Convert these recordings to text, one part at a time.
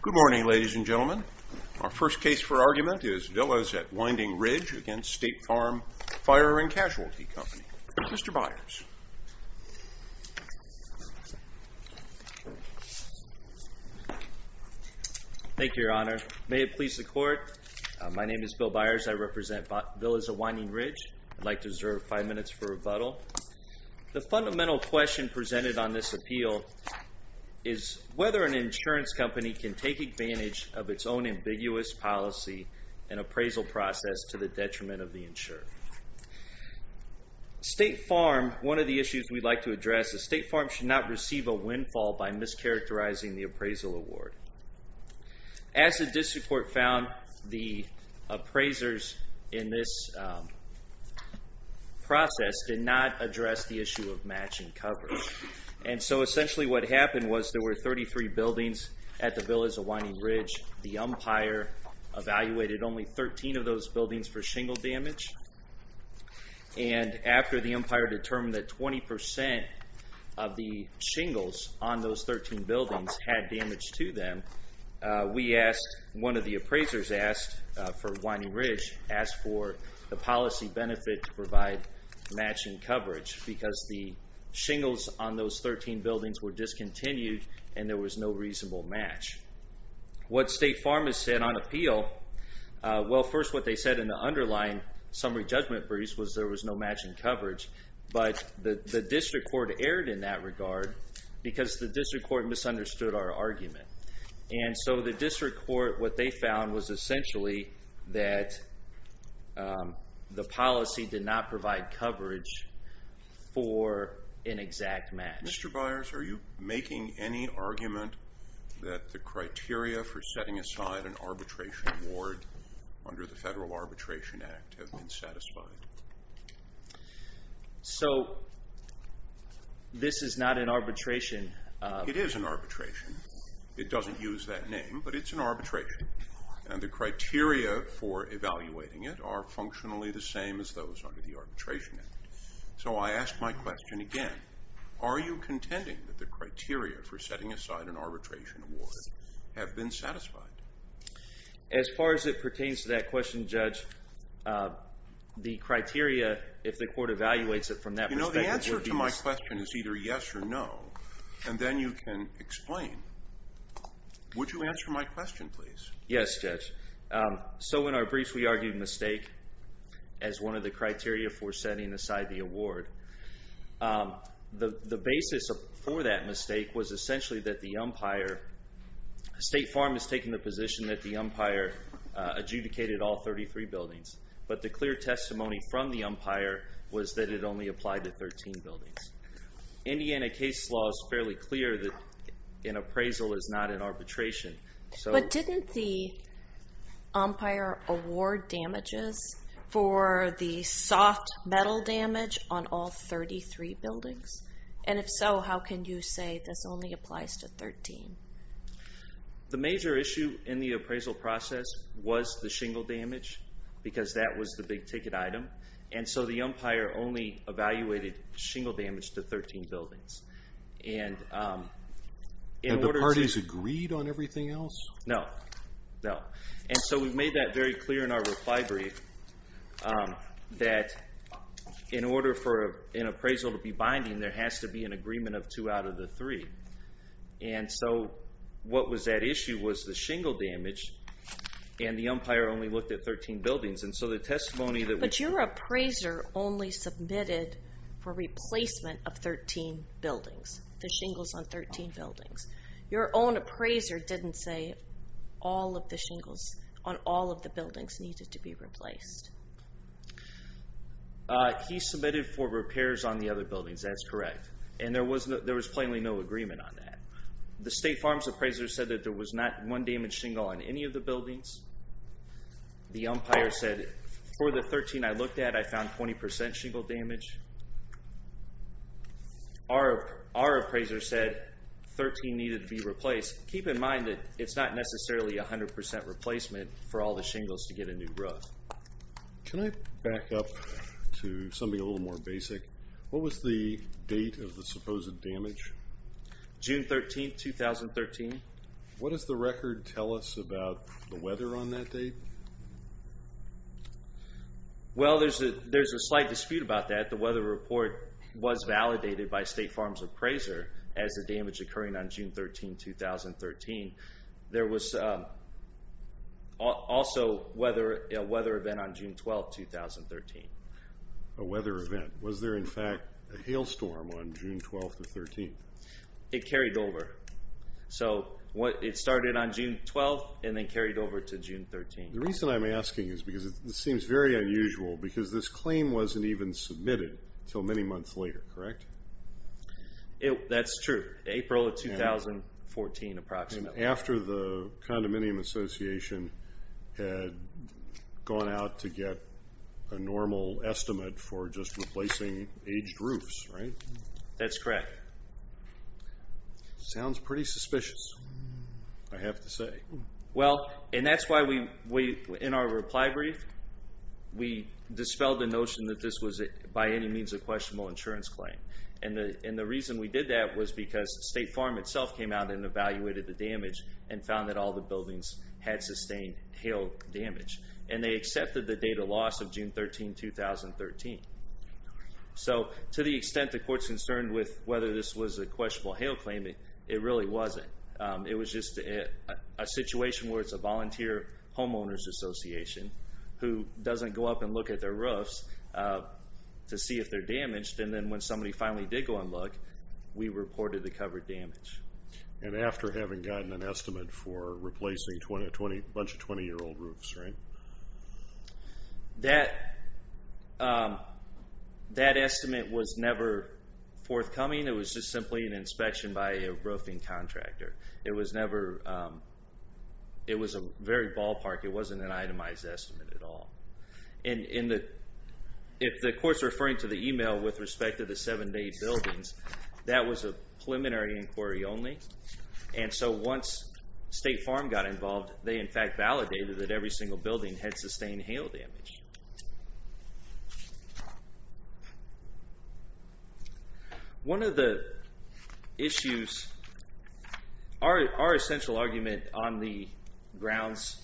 Good morning, ladies and gentlemen. Our first case for argument is Villas at Winding Ridge against State Farm Fire and Casualty Company. Mr. Byers. Thank you, Your Honor. May it please the Court. My name is Bill Byers. I represent Villas at Winding Ridge. I'd like to reserve five minutes for rebuttal. The fundamental question presented on this appeal is whether an insurance company can take advantage of its own ambiguous policy and appraisal process to the detriment of the insurer. State Farm, one of the issues we'd like to address is State Farm should not receive a windfall by mischaracterizing the appraisal award. As the district court found, the appraisers in this process did not address the issue of matching coverage. And so essentially what happened was there were 33 buildings at the Villas at Winding Ridge. The umpire evaluated only 13 of those buildings for shingle damage. And after the umpire determined that 20% of the shingles on those 13 buildings had damage to them, we asked, one of the appraisers asked for Winding Ridge, asked for the policy benefit to provide matching coverage because the shingles on those 13 buildings were discontinued and there was no reasonable match. What State Farm has said on appeal, well first what they said in the underlying summary judgment briefs was there was no matching coverage. But the district court erred in that regard because the district court misunderstood our argument. And so the district court, what they found was essentially that the policy did not provide coverage for an exact match. Mr. Byers, are you making any argument that the criteria for setting aside an arbitration award under the Federal Arbitration Act have been satisfied? So this is not an arbitration. It is an arbitration. It doesn't use that name, but it's an arbitration. And the criteria for evaluating it are functionally the same as those under the Arbitration Act. So I ask my question again. Are you contending that the criteria for setting aside an arbitration award have been satisfied? As far as it pertains to that question, Judge, the criteria, if the court evaluates it from that perspective... You know, the answer to my question is either yes or no, and then you can explain. Would you answer my question, please? Yes, Judge. So in our briefs we argued mistake as one of the criteria for setting aside the award. The basis for that mistake was essentially that the umpire... State Farm has taken the position that the umpire adjudicated all 33 buildings. But the clear testimony from the umpire was that it only applied to 13 buildings. Indiana case law is fairly clear that an appraisal is not an arbitration. But didn't the umpire award damages for the soft metal damage on all 33 buildings? And if so, how can you say this only applies to 13? The major issue in the appraisal process was the shingle damage, because that was the big ticket item. And so the umpire only evaluated shingle damage to 13 buildings. And the parties agreed on everything else? No, no. And so we made that very clear in our reply brief, that in order for an appraisal to be binding, there has to be an agreement of two out of the three. And so what was at issue was the shingle damage, and the umpire only looked at 13 buildings. But your appraiser only submitted for replacement of 13 buildings, the shingles on 13 buildings. Your own appraiser didn't say all of the shingles on all of the buildings needed to be replaced. He submitted for repairs on the other buildings, that's correct. And there was plainly no agreement on that. The State Farm's appraiser said that there was not one damaged shingle on any of the buildings. The umpire said, for the 13 I looked at, I found 20% shingle damage. Our appraiser said 13 needed to be replaced. Keep in mind that it's not necessarily 100% replacement for all the shingles to get a new roof. Can I back up to something a little more basic? What was the date of the supposed damage? June 13, 2013. What does the record tell us about the weather on that date? Well, there's a slight dispute about that. The weather report was validated by State Farm's appraiser as the damage occurring on June 13, 2013. There was also a weather event on June 12, 2013. A weather event. Was there in fact a hailstorm on June 12, 2013? It carried over. It started on June 12 and then carried over to June 13. The reason I'm asking is because this seems very unusual, because this claim wasn't even submitted until many months later, correct? That's true. April of 2014, approximately. After the Condominium Association had gone out to get a normal estimate for just replacing aged roofs, right? That's correct. Sounds pretty suspicious, I have to say. Well, and that's why we, in our reply brief, we dispelled the notion that this was by any means a questionable insurance claim. And the reason we did that was because State Farm itself came out and evaluated the damage and found that all the buildings had sustained hail damage. And they accepted the date of loss of June 13, 2013. So to the extent the court's concerned with whether this was a questionable hail claim, it really wasn't. It was just a situation where it's a volunteer homeowners association who doesn't go up and look at their roofs to see if they're damaged, and then when somebody finally did go and look, we reported the covered damage. And after having gotten an estimate for replacing a bunch of 20-year-old roofs, right? That estimate was never forthcoming. It was just simply an inspection by a roofing contractor. It was a very ballpark. It wasn't an itemized estimate at all. If the court's referring to the email with respect to the seven-day buildings, that was a preliminary inquiry only. And so once State Farm got involved, they in fact validated that every single building had sustained hail damage. One of the issues, our essential argument on the grounds,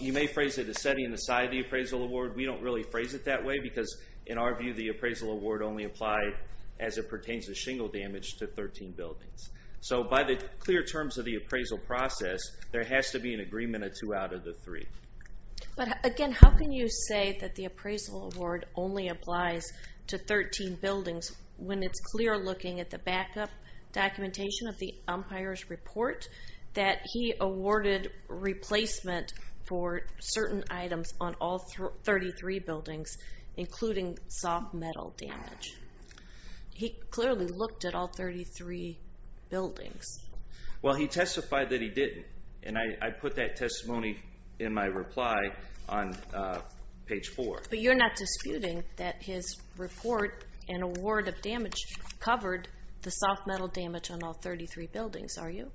you may phrase it as setting aside the appraisal award. We don't really phrase it that way because, in our view, the appraisal award only applied as it pertains to shingle damage to 13 buildings. So by the clear terms of the appraisal process, there has to be an agreement of two out of the three. But again, how can you say that the appraisal award only applies to 13 buildings when it's clear looking at the backup documentation of the umpire's report that he awarded replacement for certain items on all 33 buildings, including soft metal damage? He clearly looked at all 33 buildings. Well, he testified that he didn't. And I put that testimony in my reply on page 4. But you're not disputing that his report and award of damage covered the soft metal damage on all 33 buildings, are you?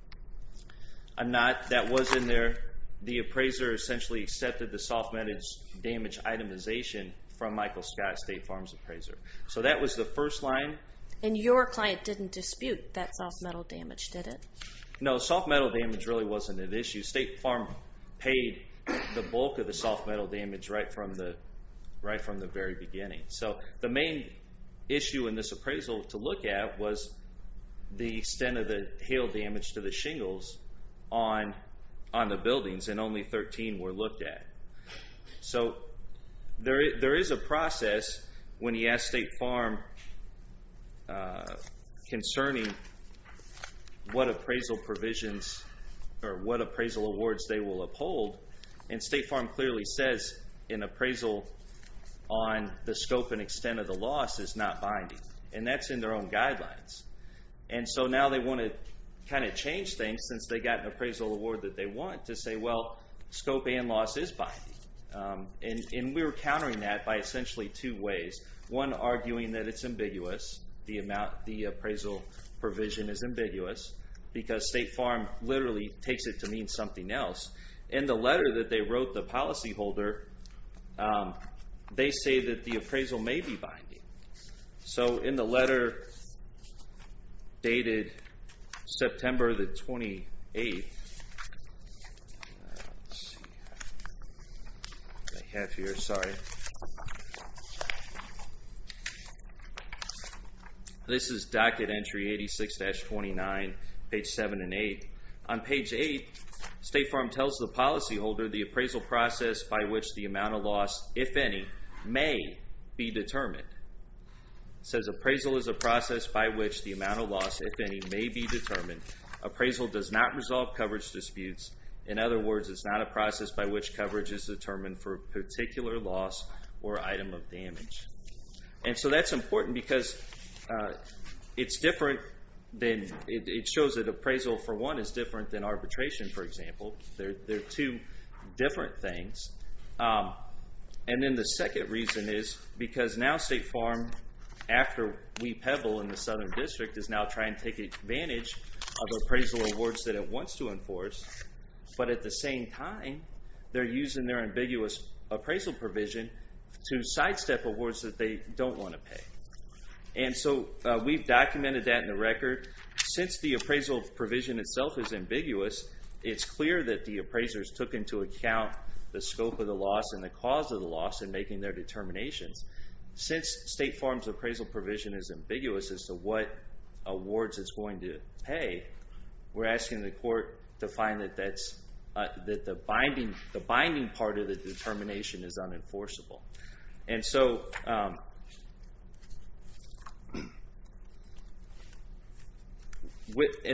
I'm not. That was in there. The appraiser essentially accepted the soft metal damage itemization from Michael Scott, State Farm's appraiser. So that was the first line. And your client didn't dispute that soft metal damage, did it? No, soft metal damage really wasn't an issue. State Farm paid the bulk of the soft metal damage right from the very beginning. So the main issue in this appraisal to look at was the extent of the hail damage to the shingles on the buildings, and only 13 were looked at. So there is a process when you ask State Farm concerning what appraisal awards they will uphold, and State Farm clearly says an appraisal on the scope and extent of the loss is not binding. And that's in their own guidelines. And so now they want to kind of change things, since they got an appraisal award that they want, to say, well, scope and loss is binding. And we're countering that by essentially two ways. One, arguing that it's ambiguous, the appraisal provision is ambiguous, because State Farm literally takes it to mean something else. In the letter that they wrote the policyholder, they say that the appraisal may be binding. So in the letter dated September the 28th, let's see what I have here, sorry. This is docket entry 86-29, page 7 and 8. On page 8, State Farm tells the policyholder the appraisal process by which the amount of loss, if any, may be determined. It says appraisal is a process by which the amount of loss, if any, may be determined. Appraisal does not resolve coverage disputes. In other words, it's not a process by which coverage is determined for a particular loss or item of damage. And so that's important because it's different than, it shows that appraisal, for one, is different than arbitration, for example. They're two different things. And then the second reason is because now State Farm, after we pebble in the Southern District, is now trying to take advantage of appraisal awards that it wants to enforce. But at the same time, they're using their ambiguous appraisal provision to sidestep awards that they don't want to pay. And so we've documented that in the record. Since the appraisal provision itself is ambiguous, it's clear that the appraisers took into account the scope of the loss and the cause of the loss in making their determinations. Since State Farm's appraisal provision is ambiguous as to what awards it's going to pay, we're asking the court to find that the binding part of the determination is unenforceable. And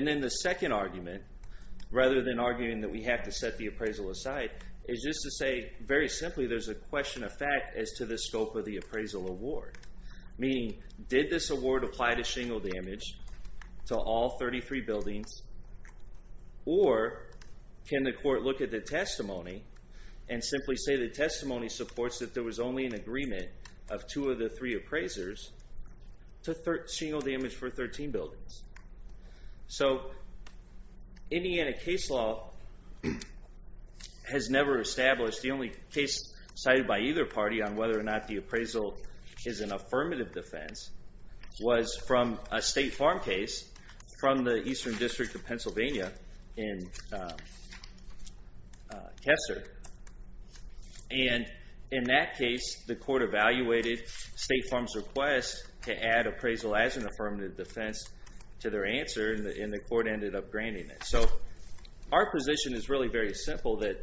then the second argument, rather than arguing that we have to set the appraisal aside, is just to say, very simply, there's a question of fact as to the scope of the appraisal award. Meaning, did this award apply to shingle damage to all 33 buildings? Or can the court look at the testimony and simply say the testimony supports that there was only an agreement of two of the three appraisers to shingle damage for 13 buildings? So Indiana case law has never established, the only case cited by either party on whether or not the appraisal is an affirmative defense was from a State Farm case from the Eastern District of Pennsylvania in Kessler. And in that case, the court evaluated State Farm's request to add appraisal as an affirmative defense to their answer, and the court ended up granting it. So our position is really very simple that,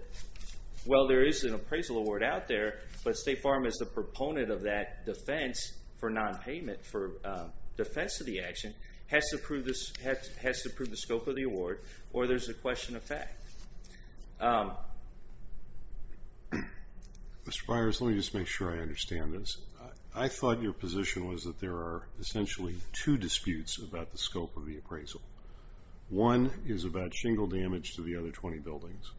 well, there is an appraisal award out there, but State Farm is the proponent of that defense for nonpayment for defense of the action, has to prove the scope of the award, or there's a question of fact. Mr. Byers, let me just make sure I understand this. I thought your position was that there are essentially two disputes about the scope of the appraisal. One is about shingle damage to the other 20 buildings.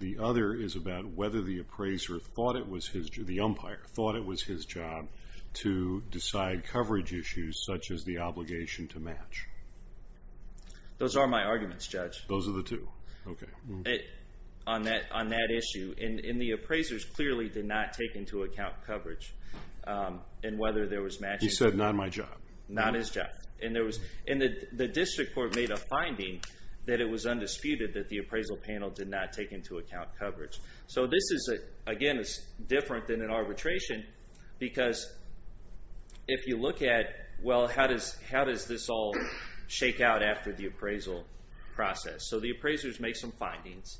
The other is about whether the appraiser thought it was his job, the umpire thought it was his job to decide coverage issues such as the obligation to match. Those are my arguments, Judge. Those are the two? Okay. On that issue, and the appraisers clearly did not take into account coverage and whether there was matching. He said, not my job. Not his job. And the district court made a finding that it was undisputed that the appraisal panel did not take into account coverage. So this is, again, different than an arbitration because if you look at, well, how does this all shake out after the appraisal process? So the appraisers make some findings,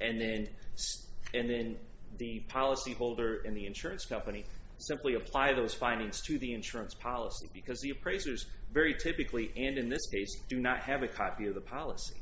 and then the policyholder and the insurance company simply apply those findings to the insurance policy because the appraisers very typically, and in this case, do not have a copy of the policy.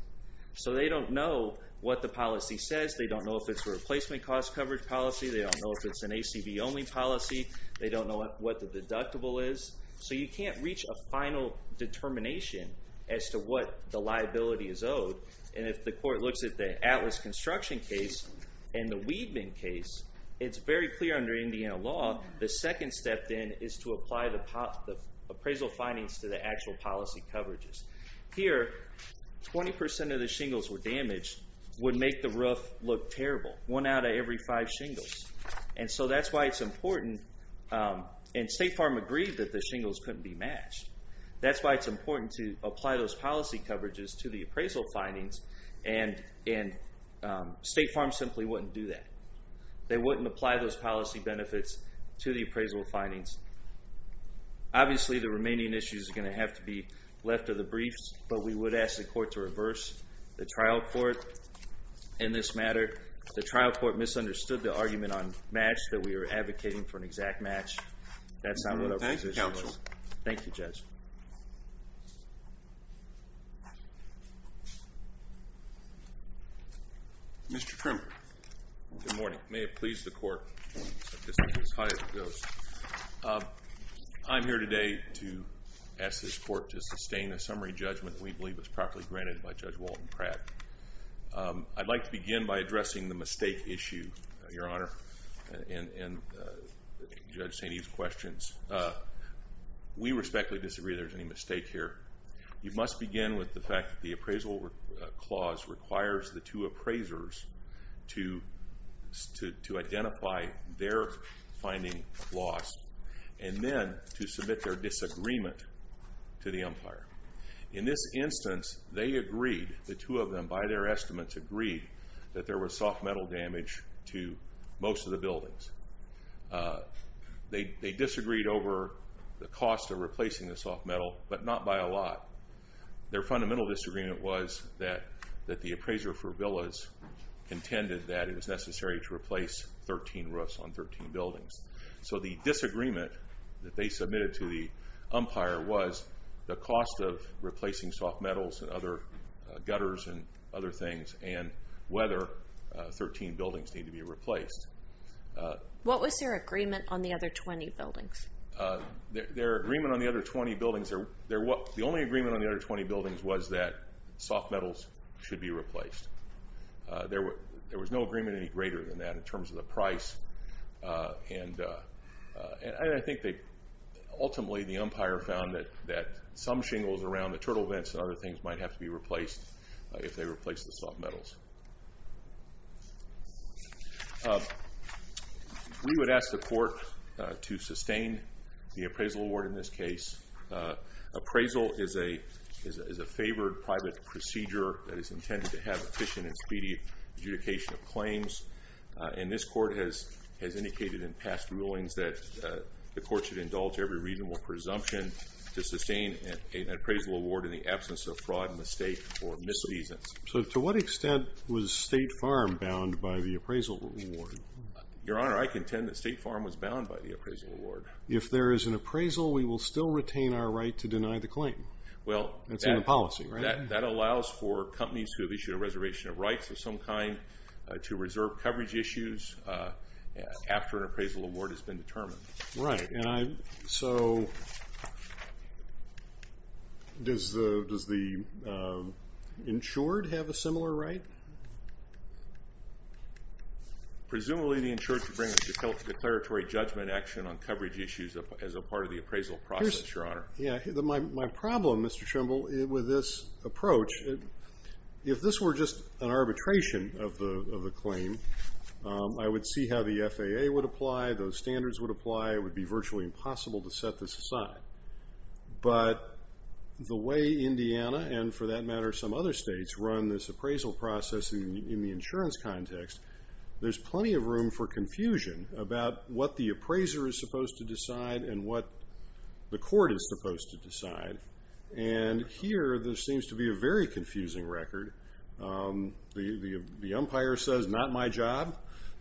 So they don't know what the policy says. They don't know if it's a replacement cost coverage policy. They don't know if it's an ACV-only policy. They don't know what the deductible is. So you can't reach a final determination as to what the liability is owed. And if the court looks at the Atlas Construction case and the Weedman case, it's very clear under Indiana law the second step then is to apply the appraisal findings to the actual policy coverages. Here, 20% of the shingles were damaged, would make the roof look terrible, one out of every five shingles. And so that's why it's important, and State Farm agreed that the shingles couldn't be matched. That's why it's important to apply those policy coverages to the appraisal findings, and State Farm simply wouldn't do that. They wouldn't apply those policy benefits to the appraisal findings. Obviously, the remaining issues are going to have to be left to the briefs, but we would ask the court to reverse the trial court in this matter. The trial court misunderstood the argument on match, that we were advocating for an exact match. That's not what our position was. Thank you, counsel. Thank you, Judge. Mr. Krimer. Good morning. May it please the court, as high as it goes. I'm here today to ask this court to sustain a summary judgment that we believe was properly granted by Judge Walton Pratt. I'd like to begin by addressing the mistake issue, Your Honor, and Judge St. Eve's questions. We respectfully disagree that there's any mistake here. You must begin with the fact that the appraisal clause requires the two appraisers to identify their finding lost and then to submit their disagreement to the umpire. In this instance, they agreed, the two of them, by their estimates, agreed that there was soft metal damage to most of the buildings. They disagreed over the cost of replacing the soft metal, but not by a lot. Their fundamental disagreement was that the appraiser for Villas intended that it was necessary to replace 13 roofs on 13 buildings. So the disagreement that they submitted to the umpire was the cost of replacing soft metals and other gutters and other things and whether 13 buildings need to be replaced. What was their agreement on the other 20 buildings? Their agreement on the other 20 buildings, the only agreement on the other 20 buildings was that soft metals should be replaced. There was no agreement any greater than that in terms of the price, and I think ultimately the umpire found that some shingles around the turtle vents and other things might have to be replaced if they replaced the soft metals. We would ask the court to sustain the appraisal award in this case. Appraisal is a favored private procedure that is intended to have efficient and speedy adjudication of claims, and this court has indicated in past rulings that the court should indulge every reasonable presumption to sustain an appraisal award in the absence of fraud, mistake, or mis-seasons. So to what extent was State Farm bound by the appraisal award? Your Honor, I contend that State Farm was bound by the appraisal award. If there is an appraisal, we will still retain our right to deny the claim. That's in the policy, right? That allows for companies who have issued a reservation of rights of some kind to reserve coverage issues after an appraisal award has been determined. Right, and so does the insured have a similar right? Presumably the insured should bring a declaratory judgment action on coverage issues as a part of the appraisal process, Your Honor. Yeah, my problem, Mr. Trimble, with this approach, if this were just an arbitration of the claim, I would see how the FAA would apply, those standards would apply, it would be virtually impossible to set this aside. But the way Indiana, and for that matter some other states, run this appraisal process in the insurance context, there's plenty of room for confusion about what the appraiser is supposed to decide and what the court is supposed to decide. And here there seems to be a very confusing record. The umpire says, not my job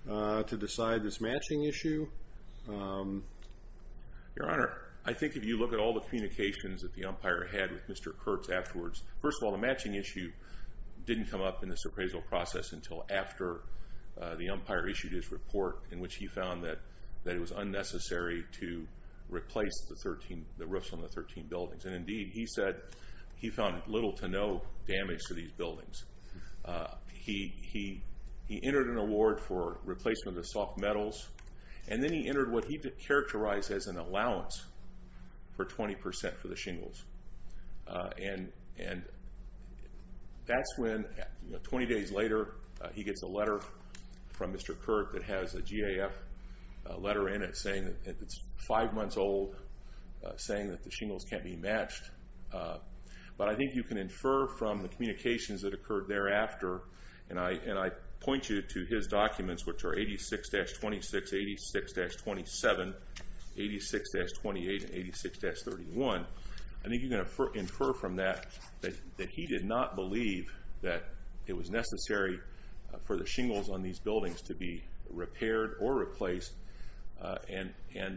to decide this matching issue. Your Honor, I think if you look at all the communications that the umpire had with Mr. Kurtz afterwards, first of all, the matching issue didn't come up in this appraisal process until after the umpire issued his report in which he found that it was unnecessary to replace the roofs on the 13 buildings. And indeed, he said he found little to no damage to these buildings. He entered an award for replacement of the soft metals, and then he entered what he characterized as an allowance for 20% for the shingles. And that's when, 20 days later, he gets a letter from Mr. Kurtz that has a GAF letter in it saying that it's five months old, saying that the shingles can't be matched. But I think you can infer from the communications that occurred thereafter, and I point you to his documents, which are 86-26, 86-27, 86-28, and 86-31. I think you can infer from that that he did not believe that it was necessary for the shingles on these buildings to be repaired or replaced and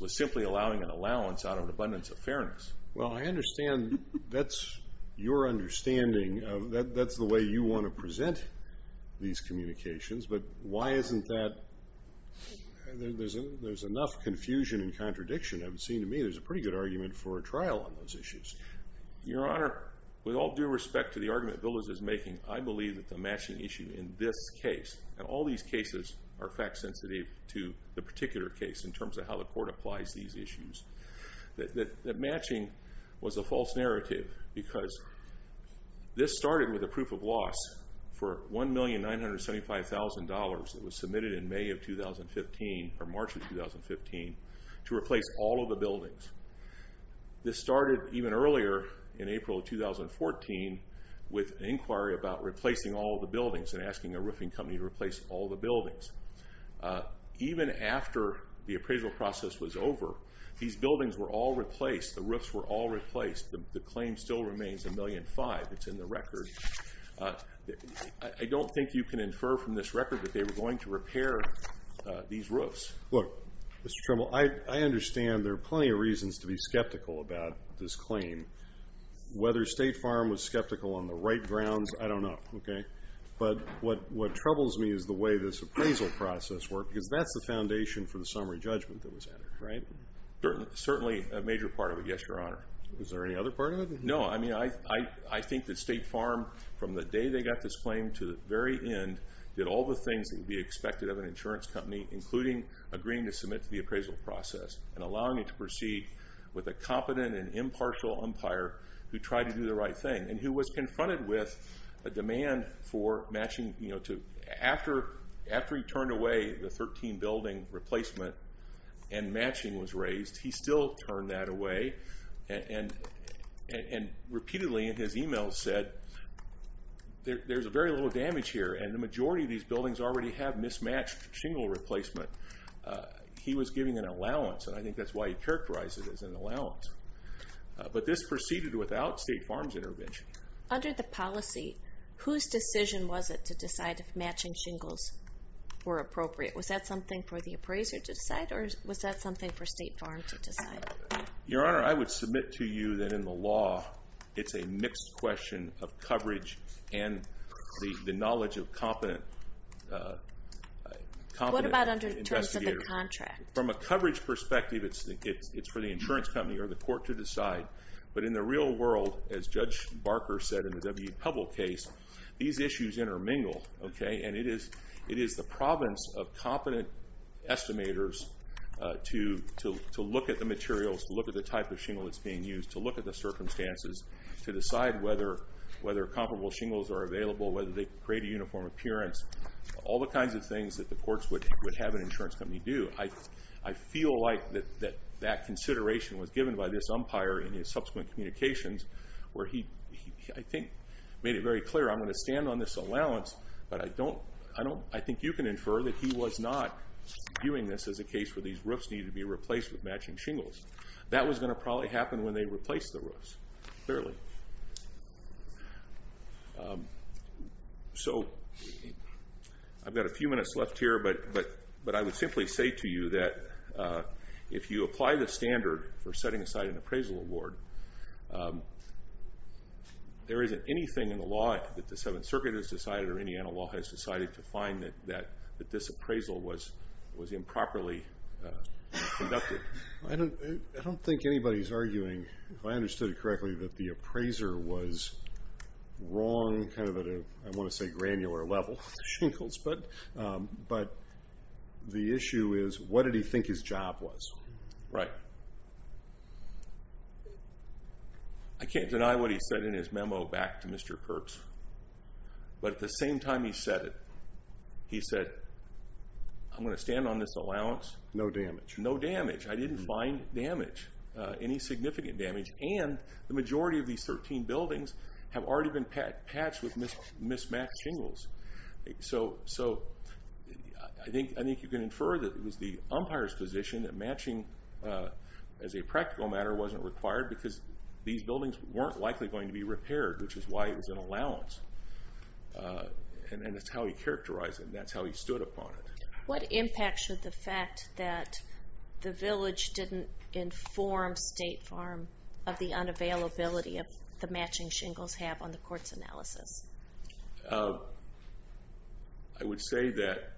was simply allowing an allowance out of an abundance of fairness. Well, I understand that's your understanding. That's the way you want to present these communications, but why isn't that? There's enough confusion and contradiction. It would seem to me there's a pretty good argument for a trial on those issues. Your Honor, with all due respect to the argument Villas is making, I believe that the matching issue in this case, and all these cases are fact-sensitive to the particular case in terms of how the court applies these issues, that matching was a false narrative because this started with a proof of loss for $1,975,000 that was submitted in May of 2015 or March of 2015 to replace all of the buildings. This started even earlier in April of 2014 with an inquiry about replacing all of the buildings and asking a roofing company to replace all of the buildings. Even after the appraisal process was over, these buildings were all replaced. The roofs were all replaced. The claim still remains $1,005,000. It's in the record. I don't think you can infer from this record that they were going to repair these roofs. Look, Mr. Trimble, I understand there are plenty of reasons to be skeptical about this claim. Whether State Farm was skeptical on the right grounds, I don't know. But what troubles me is the way this appraisal process worked because that's the foundation for the summary judgment that was entered. Certainly a major part of it, yes, Your Honor. Is there any other part of it? No. I think that State Farm, from the day they got this claim to the very end, did all the things that would be expected of an insurance company, including agreeing to submit to the appraisal process and allowing it to proceed with a competent and impartial umpire who tried to do the right thing and who was confronted with a demand for matching. After he turned away the 13-building replacement and matching was raised, he still turned that away and repeatedly in his emails said, there's very little damage here, and the majority of these buildings already have mismatched shingle replacement. He was giving an allowance, and I think that's why he characterized it as an allowance. But this proceeded without State Farm's intervention. Under the policy, whose decision was it to decide if matching shingles were appropriate? Was that something for the appraiser to decide, or was that something for State Farm to decide? Your Honor, I would submit to you that in the law, it's a mixed question of coverage and the knowledge of competent investigators. What about in terms of the contract? From a coverage perspective, it's for the insurance company or the court to decide, but in the real world, as Judge Barker said in the W.E. Pebble case, these issues intermingle, and it is the province of competent estimators to look at the materials, to look at the type of shingle that's being used, to look at the circumstances, to decide whether comparable shingles are available, whether they create a uniform appearance, all the kinds of things that the courts would have an insurance company do. I feel like that consideration was given by this umpire in his subsequent communications where he, I think, made it very clear, I'm going to stand on this allowance, but I think you can infer that he was not viewing this as a case where these roofs needed to be replaced with matching shingles. That was going to probably happen when they replaced the roofs, clearly. So I've got a few minutes left here, but I would simply say to you that if you apply the standard for setting aside an appraisal award, there isn't anything in the law that the Seventh Circuit has decided or any other law has decided to find that this appraisal was improperly conducted. I don't think anybody's arguing, if I understood it correctly, that the appraiser was wrong kind of at a, I want to say, granular level with shingles, but the issue is what did he think his job was. Right. I can't deny what he said in his memo back to Mr. Kurtz, but at the same time he said it, he said, I'm going to stand on this allowance. No damage. No damage. I didn't find damage, any significant damage, and the majority of these 13 buildings have already been patched with mismatched shingles. So I think you can infer that it was the umpire's position that matching as a practical matter wasn't required because these buildings weren't likely going to be repaired, which is why it was an allowance, and that's how he characterized it and that's how he stood upon it. What impact should the fact that the village didn't inform State Farm of the unavailability of the matching shingles have on the court's analysis? I would say that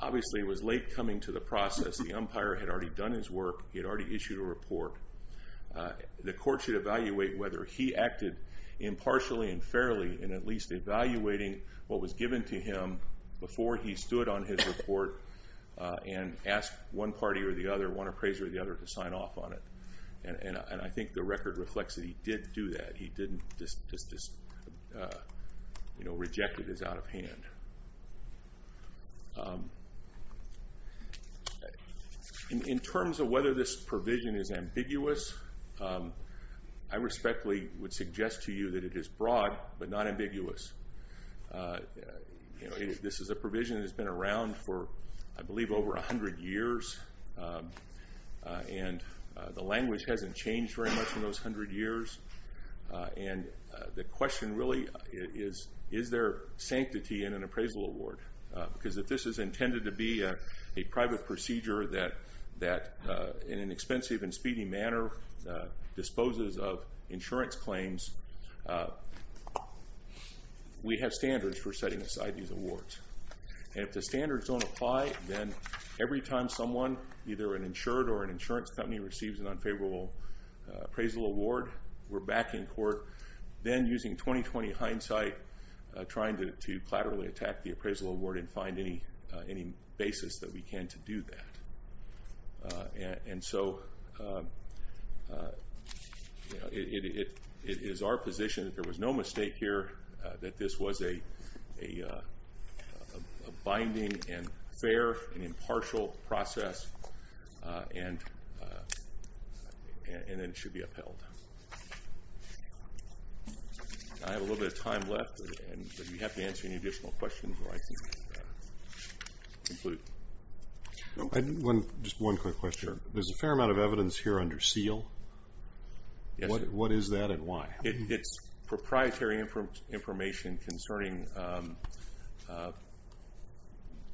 obviously it was late coming to the process. The umpire had already done his work. He had already issued a report. The court should evaluate whether he acted impartially and fairly in at least evaluating what was given to him before he stood on his report and asked one party or the other, one appraiser or the other, to sign off on it. And I think the record reflects that he did do that. He didn't just reject it as out of hand. In terms of whether this provision is ambiguous, I respectfully would suggest to you that it is broad but not ambiguous. This is a provision that has been around for, I believe, over 100 years, and the language hasn't changed very much in those 100 years. And the question really is, is there sanctity in an appraisal award? Because if this is intended to be a private procedure that in an expensive and speedy manner disposes of insurance claims, we have standards for setting aside these awards. And if the standards don't apply, then every time someone, either an insured or an insurance company, receives an unfavorable appraisal award, we're back in court, then using 20-20 hindsight, trying to collaterally attack the appraisal award and find any basis that we can to do that. And so it is our position that there was no mistake here that this was a binding and fair and impartial process, and that it should be upheld. I have a little bit of time left, but if you have to answer any additional questions, I can conclude. Just one quick question. There's a fair amount of evidence here under seal. What is that and why? It's proprietary information concerning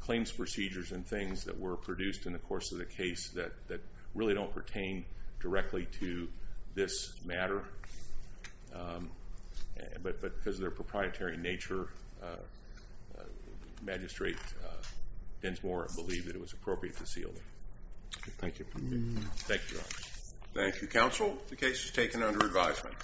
claims procedures and things that were produced in the course of the case that really don't pertain directly to this matter. But because of their proprietary nature, Magistrate Bensmore believed that it was appropriate to seal them. Thank you. Thank you, Your Honor. Thank you, counsel. The case is taken under advisement.